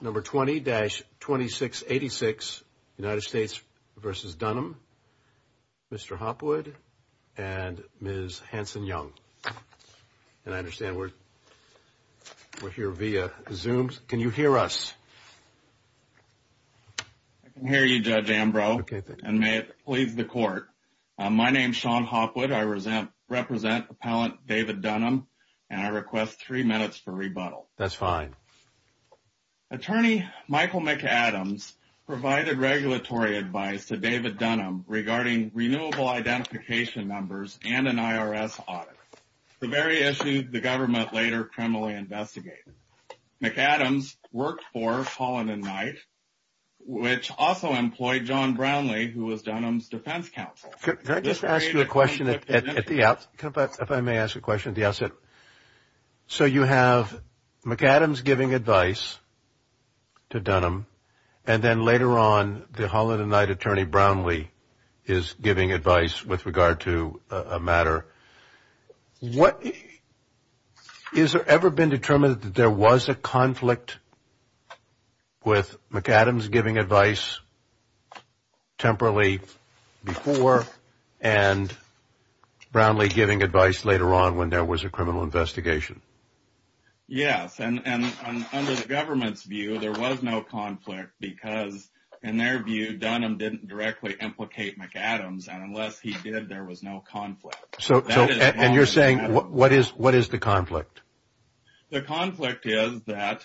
Number 20-2686, United States v. Dunham, Mr. Hopwood and Ms. Hanson-Young. And I understand we're here via Zoom. Can you hear us? I can hear you, Judge Ambrose, and may it please the Court. My name is Sean Hopwood. I represent Appellant David Dunham, and I request three minutes for rebuttal. That's fine. Attorney Michael McAdams provided regulatory advice to David Dunham regarding renewable identification numbers and an IRS audit, the very issue the government later criminally investigated. McAdams worked for Holland & Knight, which also employed John Brownlee, who was Dunham's defense counsel. Can I just ask you a question at the outset, if I may ask a question at the outset? So you have McAdams giving advice to Dunham, and then later on, the Holland & Knight attorney, Brownlee, is giving advice with regard to a matter. Has there ever been determined that there was a conflict with McAdams giving advice temporarily before and Brownlee giving advice later on when there was a criminal investigation? Yes, and under the government's view, there was no conflict because, in their view, Dunham didn't directly implicate McAdams, and unless he did, there was no conflict. And you're saying, what is the conflict? The conflict is that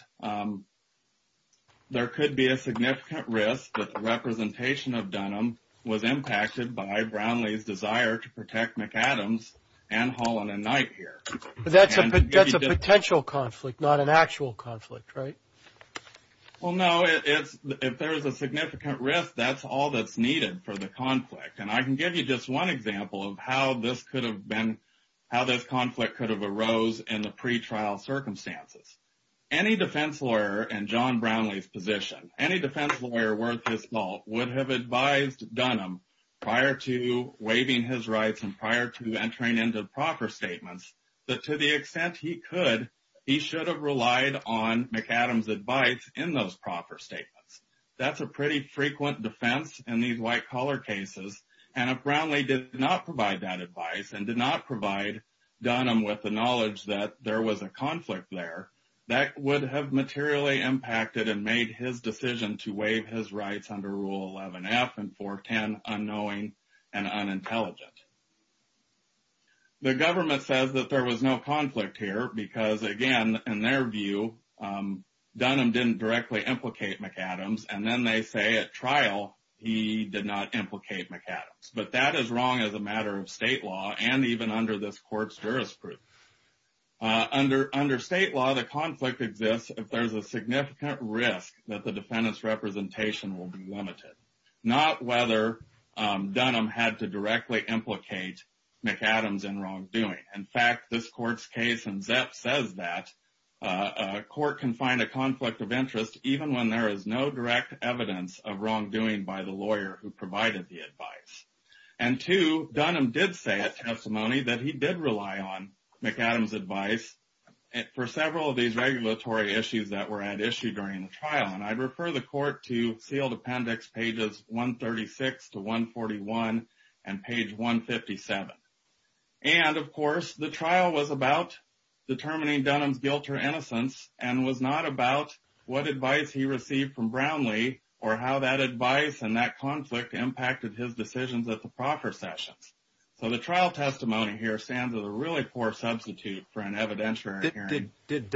there could be a significant risk that the representation of Dunham was impacted by Brownlee's desire to protect McAdams and Holland & Knight here. That's a potential conflict, not an actual conflict, right? Well, no, if there is a significant risk, that's all that's needed for the conflict. And I can give you just one example of how this conflict could have arose in the pretrial circumstances. Any defense lawyer in John Brownlee's position, any defense lawyer worth his salt, would have advised Dunham prior to waiving his rights and prior to entering into proper statements that, to the extent he could, he should have relied on McAdams' advice in those proper statements. That's a pretty frequent defense in these white-collar cases. And if Brownlee did not provide that advice and did not provide Dunham with the knowledge that there was a conflict there, that would have materially impacted and made his decision to waive his rights under Rule 11F and 410, unknowing and unintelligent. The government says that there was no conflict here because, again, in their view, Dunham didn't directly implicate McAdams. And then they say at trial he did not implicate McAdams. But that is wrong as a matter of state law and even under this court's jurisprudence. Under state law, the conflict exists if there's a significant risk that the defendant's representation will be limited, not whether Dunham had to directly implicate McAdams in wrongdoing. In fact, this court's case in Zep says that a court can find a conflict of interest even when there is no direct evidence of wrongdoing by the lawyer who provided the advice. And two, Dunham did say at testimony that he did rely on McAdams' advice for several of these regulatory issues that were at issue during the trial. And I refer the court to sealed appendix pages 136 to 141 and page 157. And, of course, the trial was about determining Dunham's guilt or innocence and was not about what advice he received from Brownlee or how that advice and that conflict impacted his decisions at the proper sessions. So the trial testimony here stands as a really poor substitute for an evidentiary hearing. Did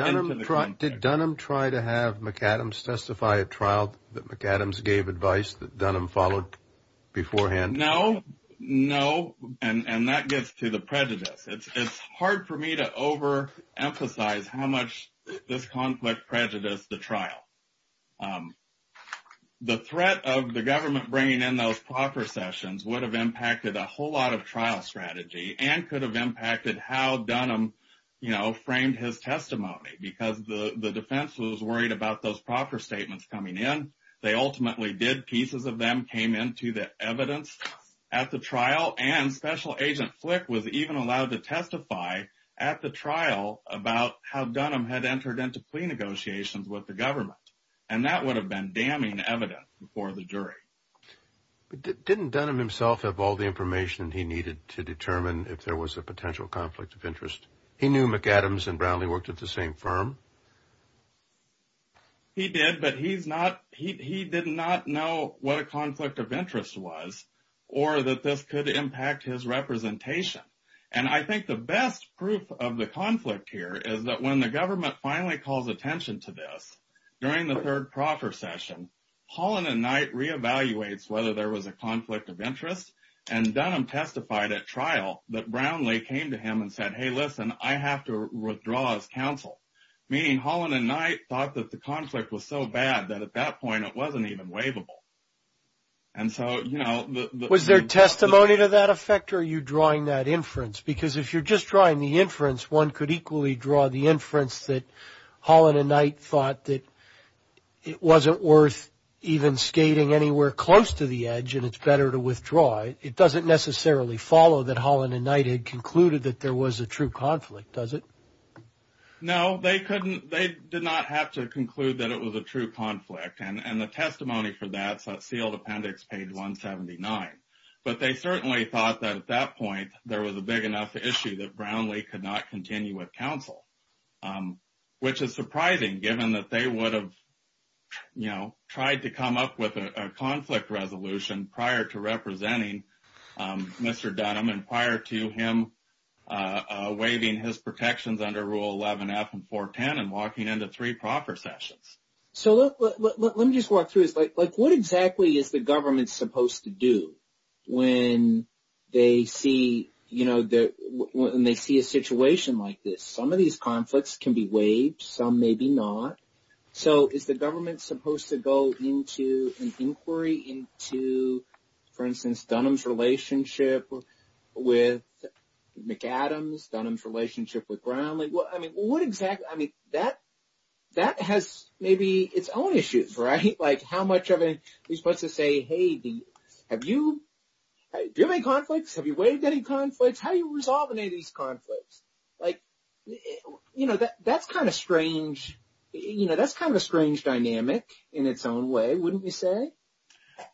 Dunham try to have McAdams testify at trial that McAdams gave advice that Dunham followed beforehand? No, no, and that gets to the prejudice. It's hard for me to overemphasize how much this conflict prejudiced the trial. The threat of the government bringing in those proper sessions would have impacted a whole lot of trial strategy and could have impacted how Dunham framed his testimony because the defense was worried about those proper statements coming in. They ultimately did. Pieces of them came into the evidence at the trial. And Special Agent Flick was even allowed to testify at the trial about how Dunham had entered into plea negotiations with the government. And that would have been damning evidence before the jury. Didn't Dunham himself have all the information he needed to determine if there was a potential conflict of interest? He knew McAdams and Brownlee worked at the same firm. He did, but he did not know what a conflict of interest was or that this could impact his representation. And I think the best proof of the conflict here is that when the government finally calls attention to this, during the third proper session, Holland and Knight reevaluates whether there was a conflict of interest. And Dunham testified at trial that Brownlee came to him and said, hey, listen, I have to withdraw as counsel. Meaning Holland and Knight thought that the conflict was so bad that at that point it wasn't even waivable. And so, you know. Was there testimony to that effect or are you drawing that inference? Because if you're just drawing the inference, one could equally draw the inference that Holland and Knight thought that it wasn't worth even skating anywhere close to the edge and it's better to withdraw. It doesn't necessarily follow that Holland and Knight had concluded that there was a true conflict, does it? No, they did not have to conclude that it was a true conflict. And the testimony for that is on sealed appendix page 179. But they certainly thought that at that point there was a big enough issue that Brownlee could not continue with counsel. Which is surprising given that they would have, you know, tried to come up with a conflict resolution prior to representing Mr. Dunham and prior to him waiving his protections under Rule 11F and 410 and walking into three proper sessions. So let me just walk through this. Like what exactly is the government supposed to do when they see, you know, when they see a situation like this? Some of these conflicts can be waived, some maybe not. So is the government supposed to go into an inquiry into, for instance, Dunham's relationship with McAdams, Dunham's relationship with Brownlee? Well, I mean, what exactly? I mean, that has maybe its own issues, right? Like how much of it are you supposed to say, hey, do you have any conflicts? Have you waived any conflicts? How do you resolve any of these conflicts? Like, you know, that's kind of strange. You know, that's kind of a strange dynamic in its own way, wouldn't you say?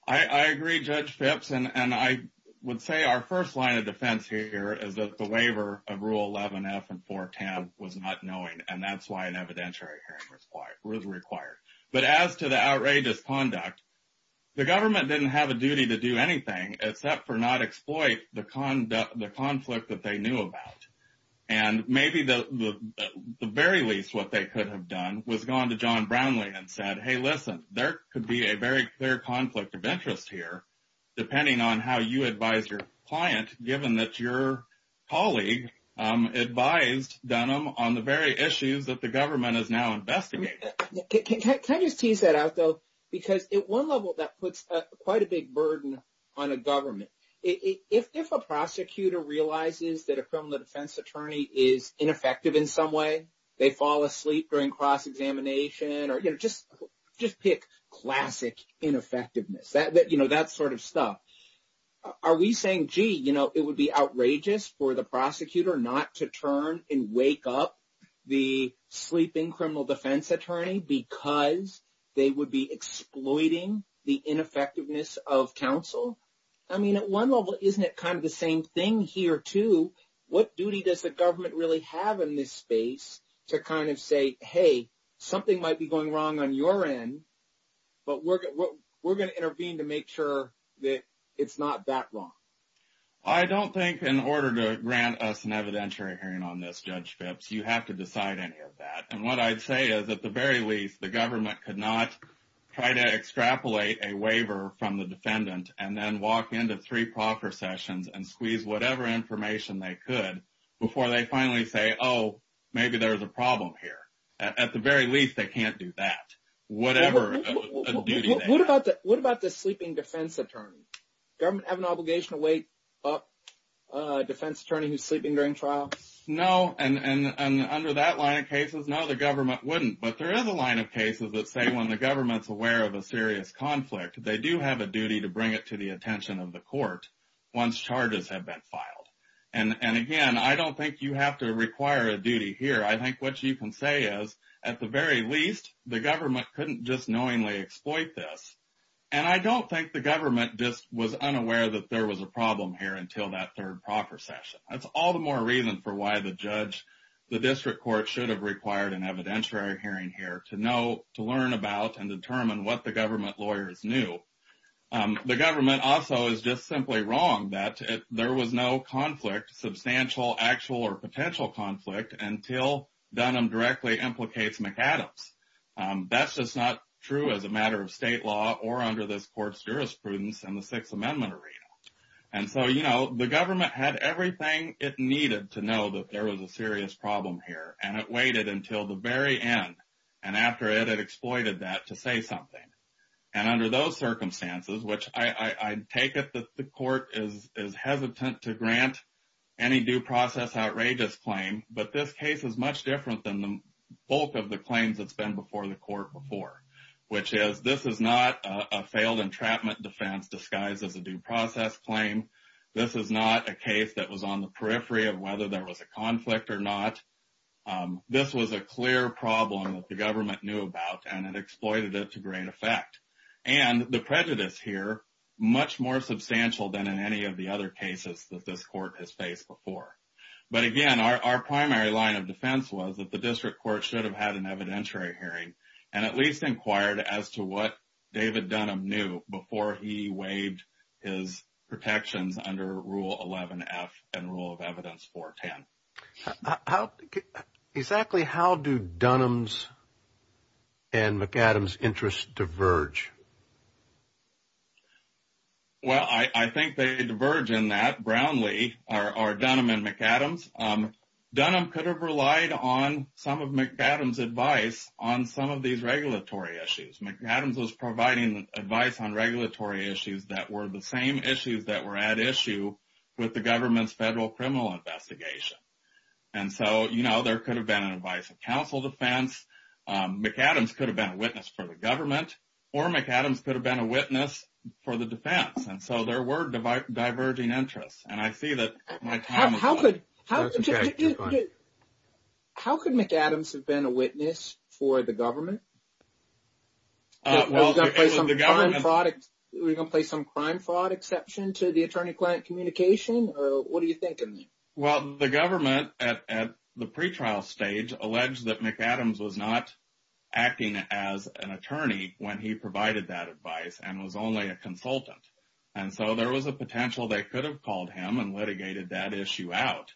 I agree, Judge Phipps. And I would say our first line of defense here is that the waiver of Rule 11F and 410 was not knowing. And that's why an evidentiary hearing was required. But as to the outrageous conduct, the government didn't have a duty to do anything except for not exploit the conflict that they knew about. And maybe the very least what they could have done was gone to John Brownlee and said, hey, listen, there could be a very clear conflict of interest here, depending on how you advise your client, given that your colleague advised Dunham on the very issues that the government is now investigating. Can I just tease that out, though? Because at one level, that puts quite a big burden on a government. If a prosecutor realizes that a criminal defense attorney is ineffective in some way, they fall asleep during cross-examination, or, you know, just pick classic ineffectiveness, you know, that sort of stuff. Are we saying, gee, you know, it would be outrageous for the prosecutor not to turn and wake up the sleeping criminal defense attorney because they would be exploiting the ineffectiveness of counsel? I mean, at one level, isn't it kind of the same thing here, too? What duty does the government really have in this space to kind of say, hey, something might be going wrong on your end, but we're going to intervene to make sure that it's not that wrong? I don't think in order to grant us an evidentiary hearing on this, Judge Phipps, you have to decide any of that. And what I'd say is, at the very least, the government could not try to extrapolate a waiver from the defendant and then walk into three proffer sessions and squeeze whatever information they could before they finally say, oh, maybe there's a problem here. At the very least, they can't do that, whatever a duty they have. What about the sleeping defense attorney? Government have an obligation to wake up a defense attorney who's sleeping during trial? No, and under that line of cases, no, the government wouldn't. But there is a line of cases that say when the government's aware of a serious conflict, they do have a duty to bring it to the attention of the court once charges have been filed. And, again, I don't think you have to require a duty here. I think what you can say is, at the very least, the government couldn't just knowingly exploit this. And I don't think the government just was unaware that there was a problem here until that third proffer session. That's all the more reason for why the judge, the district court, should have required an evidentiary hearing here to know, to learn about, and determine what the government lawyers knew. The government also is just simply wrong that there was no conflict, substantial, actual, or potential conflict, until Dunham directly implicates McAdams. That's just not true as a matter of state law or under this court's jurisprudence in the Sixth Amendment arena. And so, you know, the government had everything it needed to know that there was a serious problem here, and it waited until the very end, and after it had exploited that to say something. And under those circumstances, which I take it that the court is hesitant to grant any due process outrageous claim, but this case is much different than the bulk of the claims that's been before the court before, which is this is not a failed entrapment defense disguised as a due process claim. This is not a case that was on the periphery of whether there was a conflict or not. This was a clear problem that the government knew about, and it exploited it to great effect. And the prejudice here, much more substantial than in any of the other cases that this court has faced before. But again, our primary line of defense was that the district court should have had an evidentiary hearing and at least inquired as to what David Dunham knew before he waived his protections under Rule 11F and Rule of Evidence 410. Exactly how do Dunham's and McAdams' interests diverge? Well, I think they diverge in that Brownlee or Dunham and McAdams. Dunham could have relied on some of McAdams' advice on some of these regulatory issues. McAdams was providing advice on regulatory issues that were the same issues that were at issue with the government's federal criminal investigation. And so, you know, there could have been an advice of counsel defense. McAdams could have been a witness for the government or McAdams could have been a witness for the defense. And so there were diverging interests. And I see that. How could how could McAdams have been a witness for the government? Well, we're going to play some crime fraud exception to the attorney client communication. Or what do you think? Well, the government at the pretrial stage alleged that McAdams was not acting as an attorney when he provided that advice and was only a consultant. And so there was a potential they could have called him and litigated that issue out.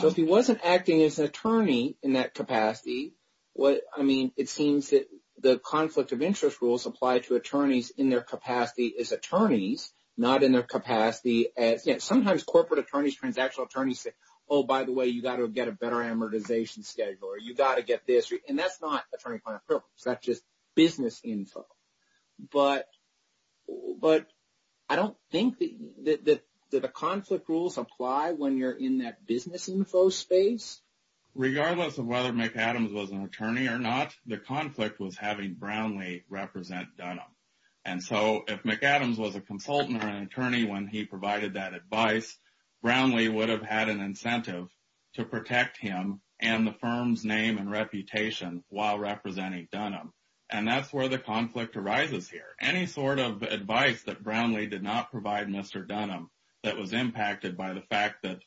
So if he wasn't acting as an attorney in that capacity, what I mean, it seems that the conflict of interest rules apply to attorneys in their capacity as attorneys, not in their capacity as, you know, sometimes corporate attorneys, transactional attorneys say, oh, by the way, you've got to get a better amortization schedule or you've got to get this. And that's not attorney client privilege. That's just business info. But but I don't think that the conflict rules apply when you're in that business info space. Regardless of whether McAdams was an attorney or not, the conflict was having Brownlee represent Dunham. And so if McAdams was a consultant or an attorney when he provided that advice, Brownlee would have had an incentive to protect him and the firm's name and reputation while representing Dunham. And that's where the conflict arises here. Any sort of advice that Brownlee did not provide Mr. Dunham that was impacted by the fact that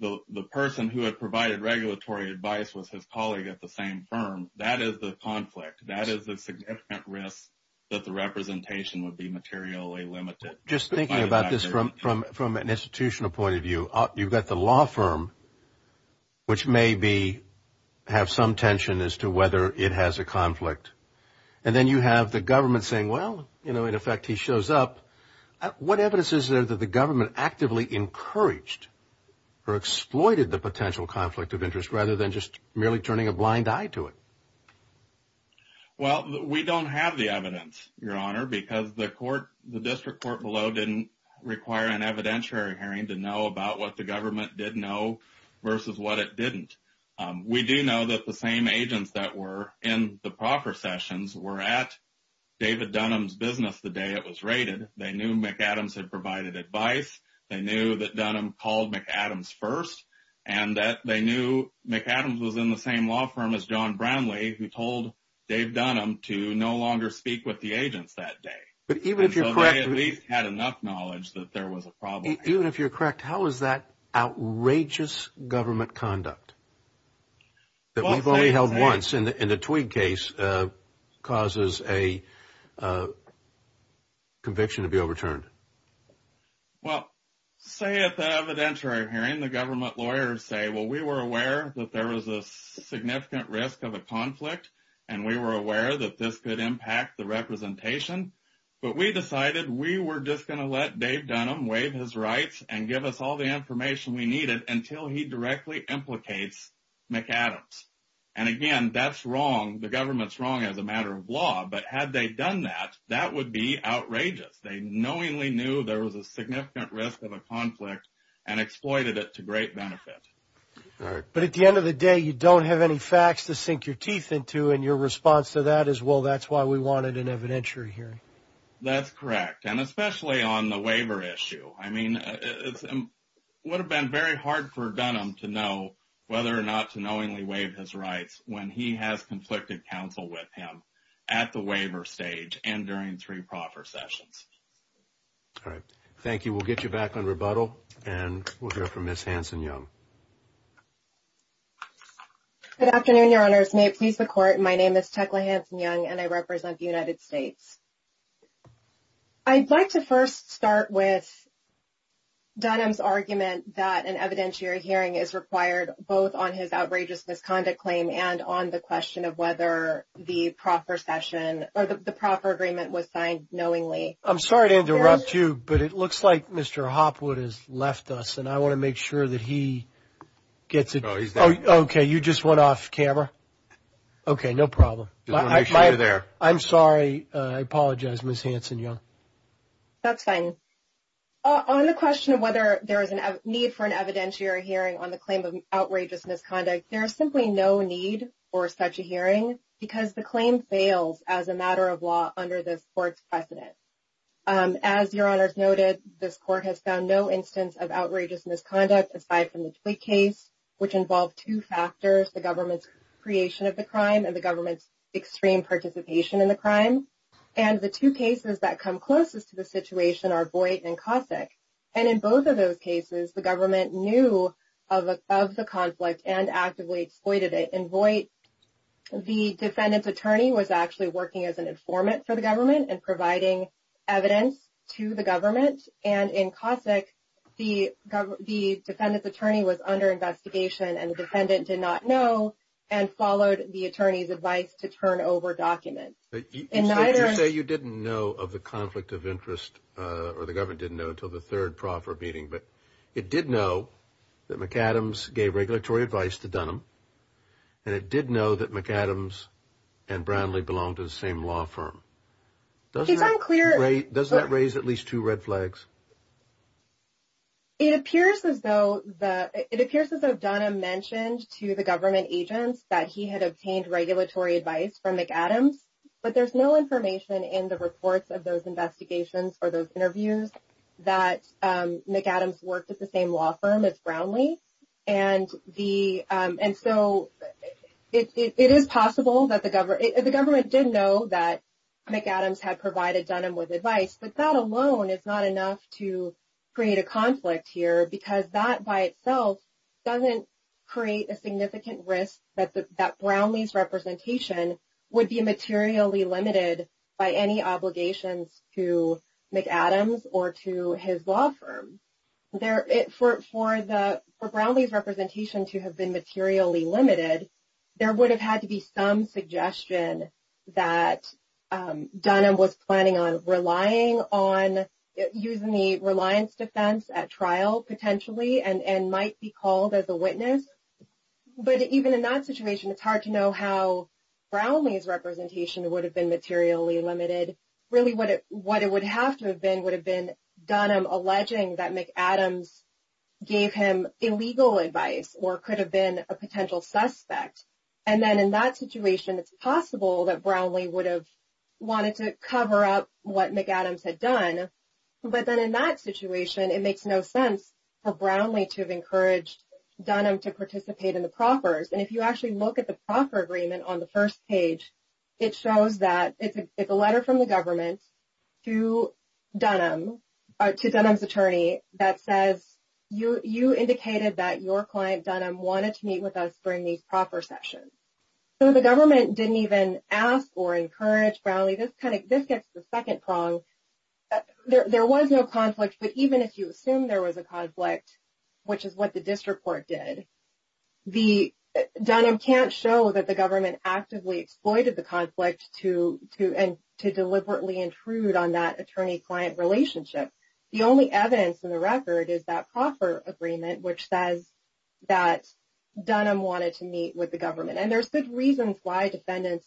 the person who had provided regulatory advice was his colleague at the same firm. That is the conflict. That is a significant risk that the representation would be materially limited. Just thinking about this from from from an institutional point of view, you've got the law firm. Which may be have some tension as to whether it has a conflict. And then you have the government saying, well, you know, in effect, he shows up. What evidence is there that the government actively encouraged or exploited the potential conflict of interest rather than just merely turning a blind eye to it? Well, we don't have the evidence, Your Honor, because the court, the district court below, didn't require an evidentiary hearing to know about what the government did know versus what it didn't. We do know that the same agents that were in the proper sessions were at David Dunham's business the day it was raided. They knew McAdams had provided advice. They knew that Dunham called McAdams first and that they knew McAdams was in the same law firm as John Brownlee. Dave Dunham to no longer speak with the agents that day. But even if you're correct, at least had enough knowledge that there was a problem. Even if you're correct, how is that outrageous government conduct that we've only held once in the twig case causes a conviction to be overturned? Well, say at the evidentiary hearing, the government lawyers say, well, we were aware that there was a significant risk of a conflict and we were aware that this could impact the representation. But we decided we were just going to let Dave Dunham waive his rights and give us all the information we needed until he directly implicates McAdams. And again, that's wrong. The government's wrong as a matter of law. But had they done that, that would be outrageous. They knowingly knew there was a significant risk of a conflict and exploited it to great benefit. But at the end of the day, you don't have any facts to sink your teeth into. And your response to that is, well, that's why we wanted an evidentiary hearing. That's correct. And especially on the waiver issue. I mean, it would have been very hard for Dunham to know whether or not to knowingly waive his rights when he has conflicted counsel with him at the waiver stage and during three proper sessions. All right. Thank you. We'll get you back on rebuttal and we'll hear from Miss Hanson-Young. Good afternoon, Your Honors. May it please the Court, my name is Tecla Hanson-Young and I represent the United States. I'd like to first start with Dunham's argument that an evidentiary hearing is required both on his outrageous misconduct claim and on the question of whether the proper session or the proper agreement was signed knowingly. I'm sorry to interrupt you, but it looks like Mr. Hopwood has left us and I want to make sure that he gets it. Oh, OK. You just went off camera. OK, no problem. I'm sorry. I apologize, Miss Hanson-Young. That's fine. On the question of whether there is a need for an evidentiary hearing on the claim of outrageous misconduct, there is simply no need for such a hearing because the claim fails as a matter of law under this Court's precedent. As Your Honors noted, this Court has found no instance of outrageous misconduct aside from the Twigg case, which involved two factors, the government's creation of the crime and the government's extreme participation in the crime. And the two cases that come closest to the situation are Voight and Cossack. And in both of those cases, the government knew of the conflict and actively exploited it. In Voight, the defendant's attorney was actually working as an informant for the government and providing evidence to the government. And in Cossack, the defendant's attorney was under investigation and the defendant did not know and followed the attorney's advice to turn over documents. You say you didn't know of the conflict of interest or the government didn't know until the third proffer meeting, but it did know that McAdams gave regulatory advice to Dunham and it did know that McAdams and Brownlee belonged to the same law firm. Does that raise at least two red flags? It appears as though Dunham mentioned to the government agents that he had obtained regulatory advice from McAdams, but there's no information in the reports of those investigations or those interviews that McAdams worked at the same law firm as Brownlee. And so it is possible that the government did know that McAdams had provided Dunham with advice, but that alone is not enough to create a conflict here because that by itself doesn't create a significant risk that Brownlee's representation would be materially limited by any obligations to McAdams or to his law firm. For Brownlee's representation to have been materially limited, there would have had to be some suggestion that Dunham was planning on relying on using the reliance defense at trial potentially and might be called as a witness. But even in that situation, it's hard to know how Brownlee's representation would have been materially limited. Really what it would have to have been would have been Dunham alleging that McAdams gave him illegal advice or could have been a potential suspect. And then in that situation, it's possible that Brownlee would have wanted to cover up what McAdams had done. But then in that situation, it makes no sense for Brownlee to have encouraged Dunham to participate in the proffers. And if you actually look at the proffer agreement on the first page, it shows that it's a letter from the government to Dunham, to Dunham's attorney, that says, you indicated that your client Dunham wanted to meet with us during these proffer sessions. So the government didn't even ask or encourage Brownlee. This gets to the second prong. There was no conflict, but even if you assume there was a conflict, which is what the district court did, Dunham can't show that the government actively exploited the conflict to deliberately intrude on that attorney-client relationship. The only evidence in the record is that proffer agreement, which says that Dunham wanted to meet with the government. And there's good reasons why defendants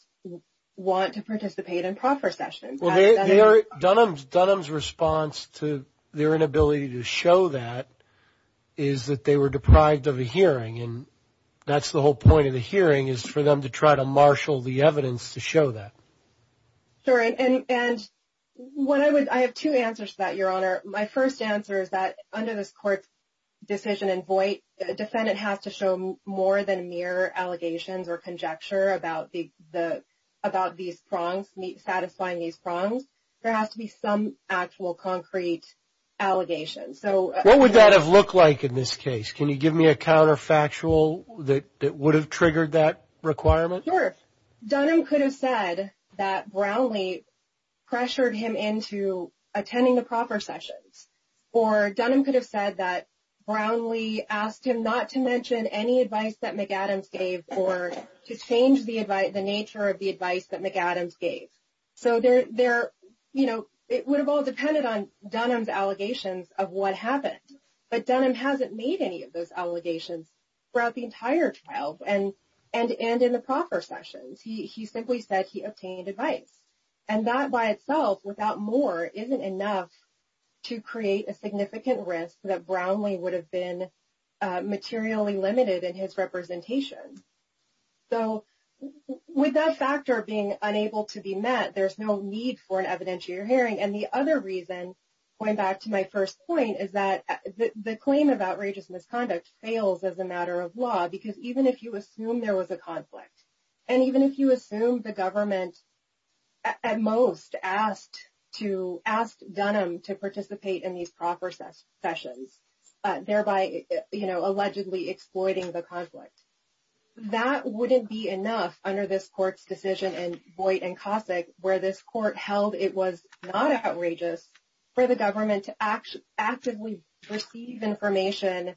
want to participate in proffer sessions. Dunham's response to their inability to show that is that they were deprived of a hearing, and that's the whole point of the hearing is for them to try to marshal the evidence to show that. And I have two answers to that, Your Honor. My first answer is that under this court's decision in Voight, a defendant has to show more than mere allegations or conjecture about these prongs, satisfying these prongs. There has to be some actual concrete allegations. What would that have looked like in this case? Can you give me a counterfactual that would have triggered that requirement? Sure. Dunham could have said that Brownlee pressured him into attending the proffer sessions, or Dunham could have said that Brownlee asked him not to mention any advice that McAdams gave or to change the nature of the advice that McAdams gave. So it would have all depended on Dunham's allegations of what happened. But Dunham hasn't made any of those allegations throughout the entire trial and in the proffer sessions. He simply said he obtained advice. And that by itself, without more, isn't enough to create a significant risk that Brownlee would have been materially limited in his representation. So with that factor being unable to be met, there's no need for an evidentiary hearing. And the other reason, going back to my first point, is that the claim of outrageous misconduct fails as a matter of law, because even if you assume there was a conflict and even if you assume the government, at most, asked Dunham to participate in these proffer sessions, thereby, you know, allegedly exploiting the conflict, that wouldn't be enough under this court's decision in Boyd v. Cossack, where this court held it was not outrageous for the government to actively receive information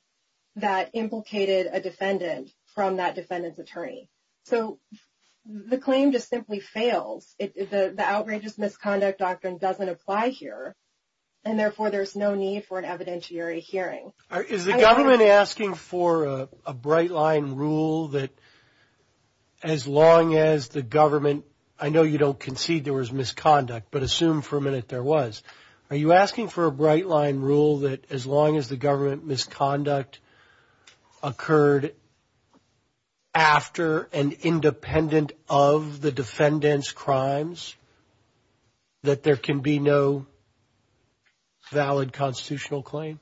that implicated a defendant from that defendant's attorney. So the claim just simply fails. The outrageous misconduct doctrine doesn't apply here. And therefore, there's no need for an evidentiary hearing. Is the government asking for a bright-line rule that as long as the government – I know you don't concede there was misconduct, but assume for a minute there was – Are you asking for a bright-line rule that as long as the government misconduct occurred after and independent of the defendant's crimes, that there can be no valid constitutional claim?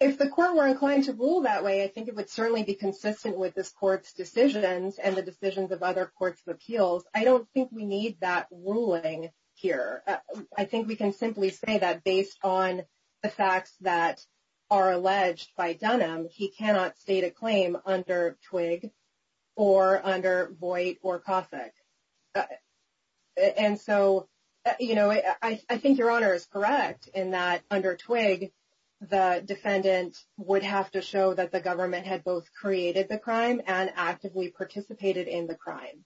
If the court were inclined to rule that way, I think it would certainly be consistent with this court's decisions and the decisions of other courts of appeals. I don't think we need that ruling here. I think we can simply say that based on the facts that are alleged by Dunham, he cannot state a claim under Twigg or under Boyd or Cossack. And so, you know, I think Your Honor is correct in that under Twigg, the defendant would have to show that the government had both created the crime and actively participated in the crime.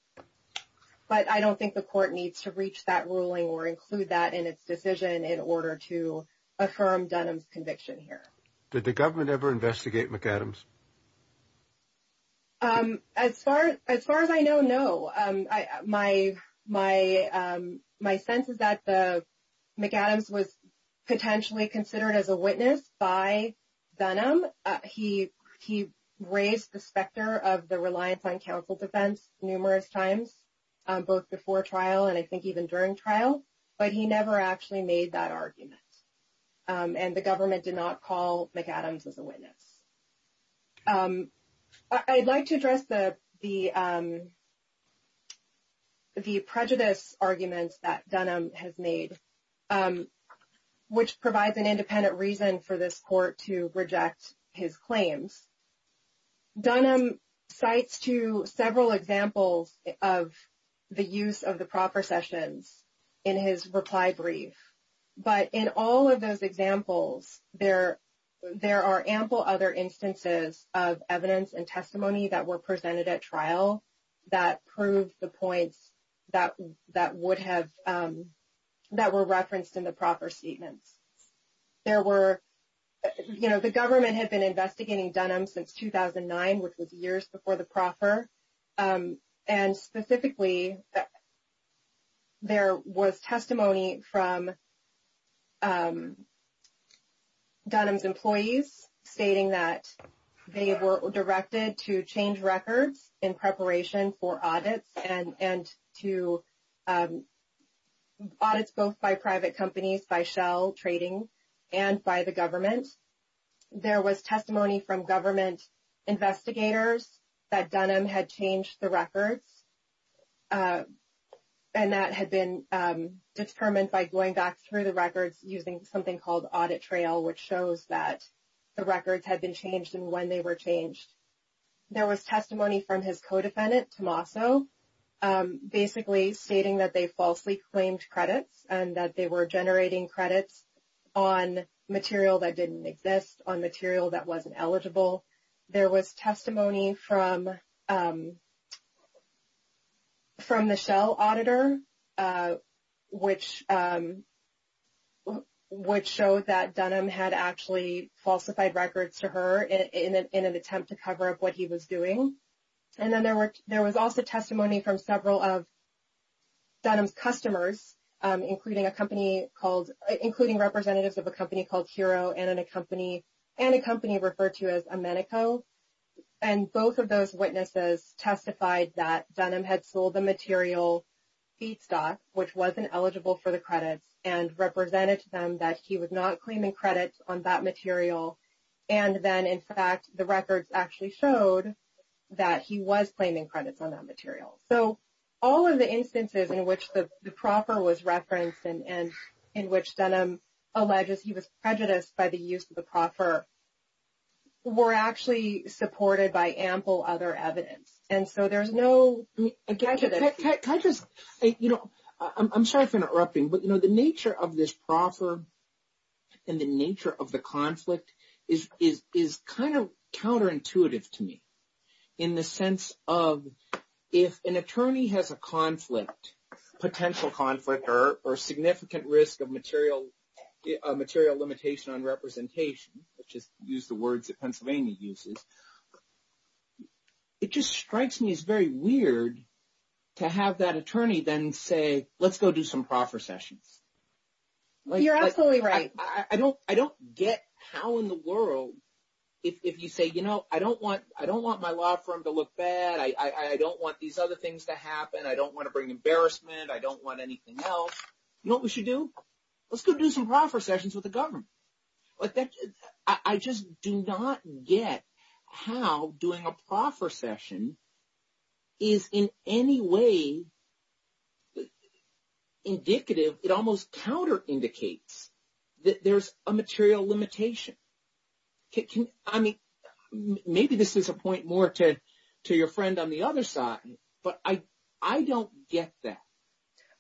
But I don't think the court needs to reach that ruling or include that in its decision in order to affirm Dunham's conviction here. Did the government ever investigate McAdams? As far as I know, no. My sense is that McAdams was potentially considered as a witness by Dunham. He raised the specter of the reliance on counsel defense numerous times, both before trial and I think even during trial. But he never actually made that argument. And the government did not call McAdams as a witness. I'd like to address the prejudice arguments that Dunham has made, which provides an independent reason for this court to reject his claims. Dunham cites to several examples of the use of the proper sessions in his reply brief. But in all of those examples, there are ample other instances of evidence and testimony that were presented at trial that proved the points that would have, that were referenced in the proper statements. There were, you know, the government had been investigating Dunham since 2009, which was years before the proper. And specifically, there was testimony from Dunham's employees stating that they were directed to change records in preparation for audits and to audits both by private companies, by shell trading and by the government. There was testimony from government investigators that Dunham had changed the records and that had been determined by going back through the records using something called audit trail, which shows that the records had been changed and when they were changed. There was testimony from his co-defendant, Tommaso, basically stating that they falsely claimed credits and that they were generating credits on material that didn't exist, on material that wasn't eligible. There was testimony from the shell auditor, which showed that Dunham had actually falsified records to her in an attempt to cover up what he was doing. And then there were, there was also testimony from several of Dunham's customers, including a company called, including representatives of a company called Hero and a company, and a company referred to as Amenico. And both of those witnesses testified that Dunham had sold the material feedstock, which wasn't eligible for the credits and represented to them that he was not claiming credits on that material. And then, in fact, the records actually showed that he was claiming credits on that material. So, all of the instances in which the proffer was referenced and in which Dunham alleges he was prejudiced by the use of the proffer were actually supported by ample other evidence. And so, there's no prejudice. Can I just, you know, I'm sorry for interrupting, but, you know, the nature of this proffer and the nature of the conflict is kind of counterintuitive to me in the sense of if an attorney has a conflict, potential conflict or significant risk of material limitation on representation, let's just use the words that Pennsylvania uses, it just strikes me as very weird to have that attorney then say, let's go do some proffer sessions. You're absolutely right. I don't, I don't get how in the world, if you say, you know, I don't want, I don't want my law firm to look bad. I don't want these other things to happen. I don't want to bring embarrassment. I don't want anything else. You know what we should do? Let's go do some proffer sessions with the government. I just do not get how doing a proffer session is in any way indicative. It almost counterindicates that there's a material limitation. I mean, maybe this is a point more to your friend on the other side, but I don't get that.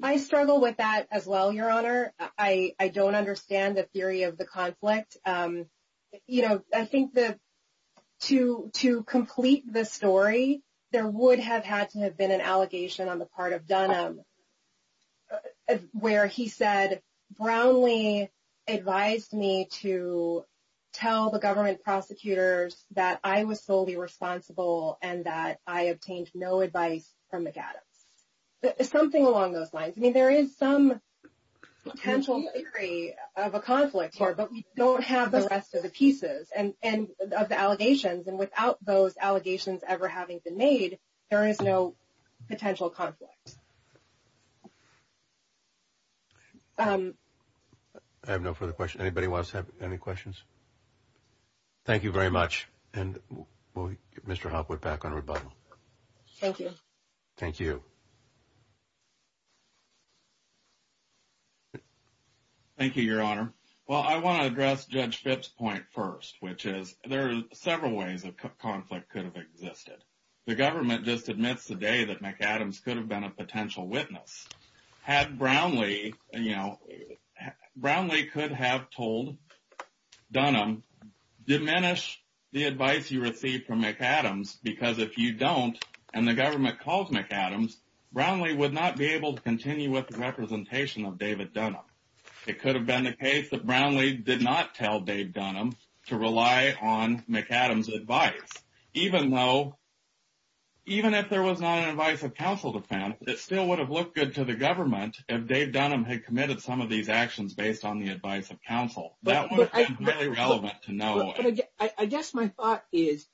I struggle with that as well, Your Honor. I don't understand the theory of the conflict. You know, I think that to complete the story, there would have had to have been an allegation on the part of Dunham where he said, Brownlee advised me to tell the government prosecutors that I was solely responsible and that I obtained no advice from McAdams. Something along those lines. I mean, there is some potential theory of a conflict here, but we don't have the rest of the pieces and of the allegations. And without those allegations ever having been made, there is no potential conflict. I have no further questions. Anybody wants to have any questions? Thank you very much. And Mr. Hopwood, back on rebuttal. Thank you. Thank you. Thank you, Your Honor. Well, I want to address Judge Phipps' point first, which is there are several ways a conflict could have existed. The government just admits today that McAdams could have been a potential witness. Had Brownlee, you know, Brownlee could have told Dunham, diminish the advice you received from McAdams because if you don't and the government calls McAdams, Brownlee would not be able to continue with the representation of David Dunham. It could have been the case that Brownlee did not tell Dave Dunham to rely on McAdams' advice. Even though, even if there was not an advice of counsel to found, it still would have looked good to the government if Dave Dunham had committed some of these actions based on the advice of counsel. That would have been very relevant to know. I guess my thought is,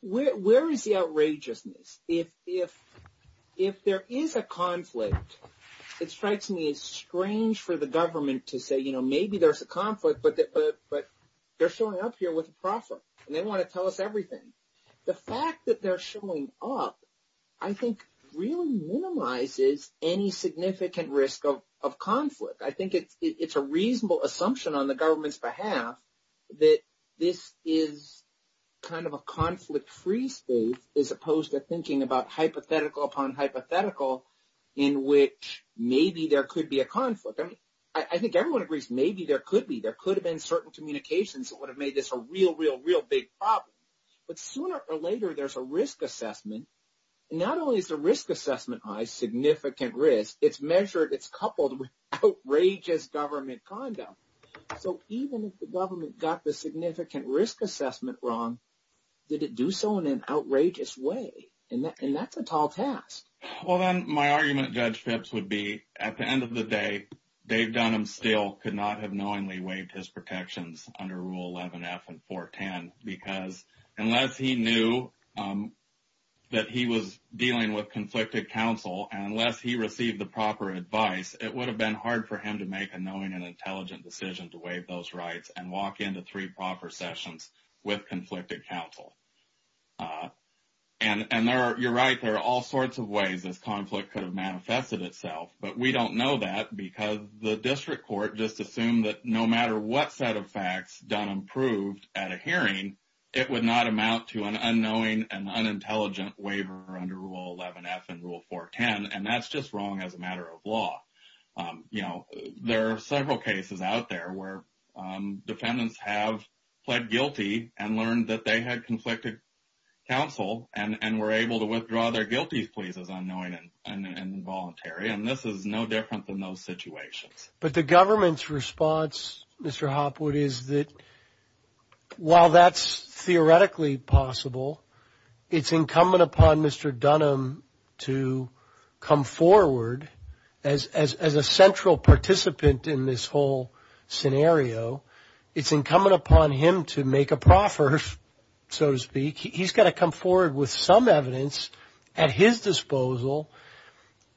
where is the outrageousness? If there is a conflict, it strikes me as strange for the government to say, you know, maybe there's a conflict, but they're showing up here with a proffer, and they want to tell us everything. The fact that they're showing up, I think, really minimizes any significant risk of conflict. I think it's a reasonable assumption on the government's behalf that this is kind of a conflict-free space as opposed to thinking about hypothetical upon hypothetical in which maybe there could be a conflict. I mean, I think everyone agrees maybe there could be. There could have been certain communications that would have made this a real, real, real big problem. But sooner or later, there's a risk assessment. Not only is the risk assessment high, significant risk, it's measured, it's coupled with outrageous government condom. So even if the government got the significant risk assessment wrong, did it do so in an outrageous way? And that's a tall task. Well, then my argument, Judge Phipps, would be at the end of the day, Dave Dunham still could not have knowingly waived his protections under Rule 11F and 410 because unless he knew that he was dealing with conflicted counsel and unless he received the proper advice, it would have been hard for him to make a knowing and intelligent decision to waive those rights and walk into three proper sessions with conflicted counsel. And you're right, there are all sorts of ways this conflict could have manifested itself, but we don't know that because the district court just assumed that no matter what set of facts Dunham proved at a hearing, it would not amount to an unknowing and unintelligent waiver under Rule 11F and Rule 410, and that's just wrong as a matter of law. You know, there are several cases out there where defendants have pled guilty and learned that they had conflicted counsel and were able to withdraw their guilty pleas as unknowing and involuntary, and this is no different than those situations. But the government's response, Mr. Hopwood, is that while that's theoretically possible, it's incumbent upon Mr. Dunham to come forward as a central participant in this whole scenario. It's incumbent upon him to make a proffer, so to speak. He's got to come forward with some evidence at his disposal.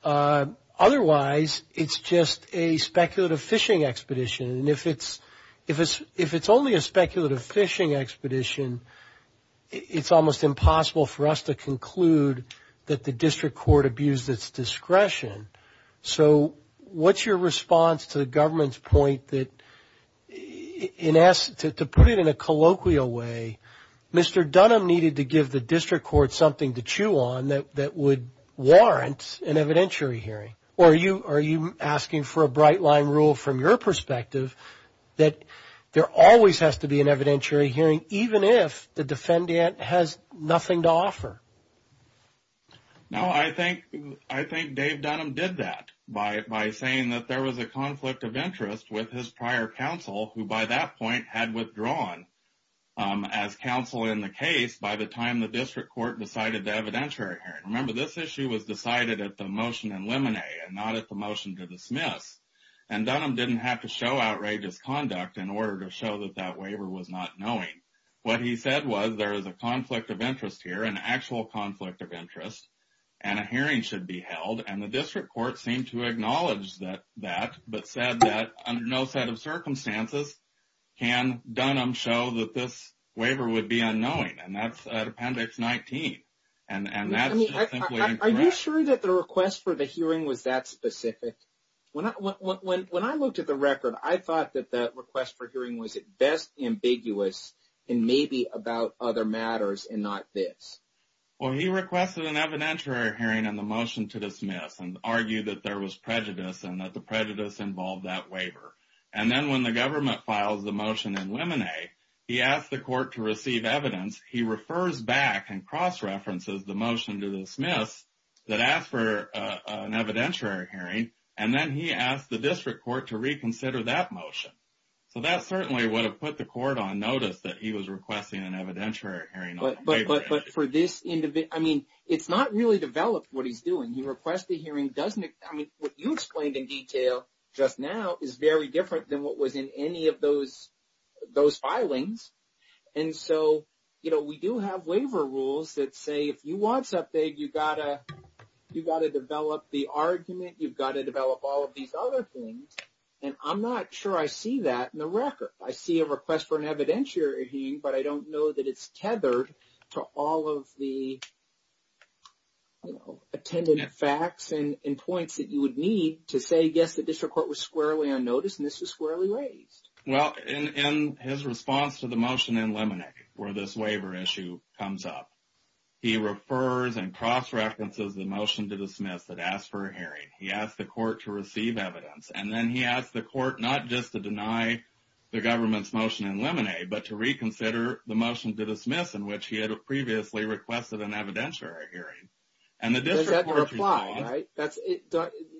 Otherwise, it's just a speculative fishing expedition, and if it's only a speculative fishing expedition, it's almost impossible for us to conclude that the district court abused its discretion. So what's your response to the government's point that to put it in a colloquial way, Mr. Dunham needed to give the district court something to chew on that would warrant an evidentiary hearing? Or are you asking for a bright-line rule from your perspective that there always has to be an evidentiary hearing even if the defendant has nothing to offer? No, I think Dave Dunham did that by saying that there was a conflict of interest with his prior counsel who by that point had withdrawn as counsel in the case by the time the district court decided the evidentiary hearing. Remember, this issue was decided at the motion in limine and not at the motion to dismiss, and Dunham didn't have to show outrageous conduct in order to show that that waiver was not knowing. What he said was there is a conflict of interest here, an actual conflict of interest, and a hearing should be held, and the district court seemed to acknowledge that, but said that under no set of circumstances can Dunham show that this waiver would be unknowing, and that's at Appendix 19, and that's simply incorrect. Are you sure that the request for the hearing was that specific? When I looked at the record, I thought that the request for hearing was at best ambiguous and maybe about other matters and not this. Well, he requested an evidentiary hearing in the motion to dismiss and argued that there was prejudice and that the prejudice involved that waiver. And then when the government files the motion in limine, he asked the court to receive evidence. He refers back and cross-references the motion to dismiss that asked for an evidentiary hearing, and then he asked the district court to reconsider that motion. So that certainly would have put the court on notice that he was requesting an evidentiary hearing. But for this individual, I mean, it's not really developed what he's doing. He requests the hearing, doesn't it? I mean, what you explained in detail just now is very different than what was in any of those filings. And so, you know, we do have waiver rules that say if you want something, you've got to develop the argument, you've got to develop all of these other things. And I'm not sure I see that in the record. I see a request for an evidentiary hearing, but I don't know that it's tethered to all of the, you know, attendant facts and points that you would need to say, yes, the district court was squarely on notice and this was squarely raised. Well, in his response to the motion in limine where this waiver issue comes up, he refers and cross-references the motion to dismiss that asked for a hearing. He asked the court to receive evidence. And then he asked the court not just to deny the government's motion in limine, but to reconsider the motion to dismiss in which he had previously requested an evidentiary hearing. Does that reply, right?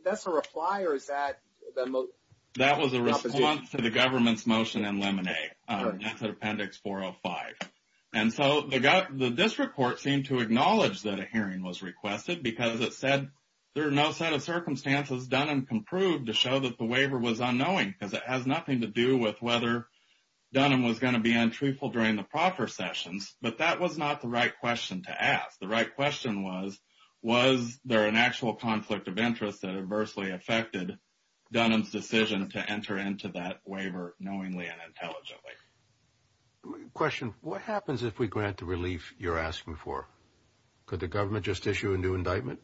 That's a reply or is that the opposition? That was a response to the government's motion in limine. That's at Appendix 405. And so the district court seemed to acknowledge that a hearing was requested because it said there are no set of circumstances Dunham can prove to show that the waiver was unknowing because it has nothing to do with whether Dunham was going to be untruthful during the proper sessions. But that was not the right question to ask. The right question was, was there an actual conflict of interest that adversely affected Dunham's decision to enter into that waiver knowingly and intelligently? Question, what happens if we grant the relief you're asking for? Could the government just issue a new indictment?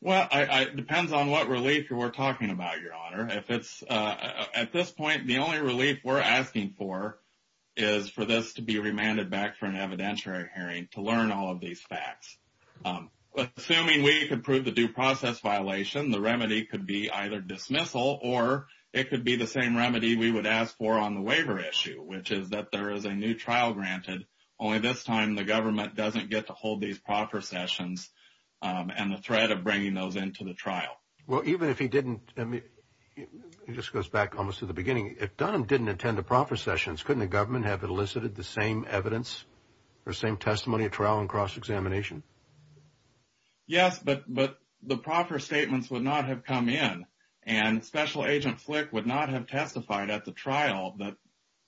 Well, it depends on what relief we're talking about, Your Honor. If it's at this point, the only relief we're asking for is for this to be remanded back for an evidentiary hearing to learn all of these facts. Assuming we could prove the due process violation, the remedy could be either dismissal or it could be the same remedy we would ask for on the waiver issue, which is that there is a new trial granted. Only this time, the government doesn't get to hold these proper sessions and the threat of bringing those into the trial. Well, even if he didn't, I mean, it just goes back almost to the beginning. If Dunham didn't attend the proper sessions, couldn't the government have elicited the same evidence or same testimony at trial and cross-examination? Yes, but the proper statements would not have come in. And Special Agent Flick would not have testified at the trial that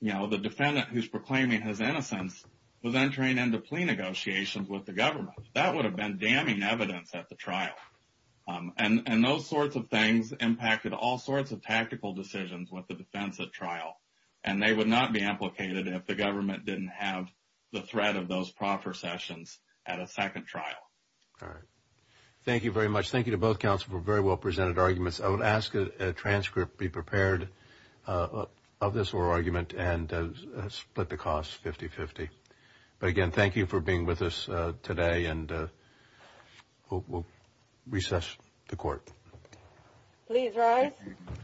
the defendant who's proclaiming his innocence was entering into plea negotiations with the government. That would have been damning evidence at the trial. And those sorts of things impacted all sorts of tactical decisions with the defense at trial. And they would not be implicated if the government didn't have the threat of those proper sessions at a second trial. All right. Thank you very much. Thank you to both counsel for very well presented arguments. I would ask a transcript be prepared of this oral argument and split the cost 50-50. But again, thank you for being with us today, and we'll recess the court. Please rise.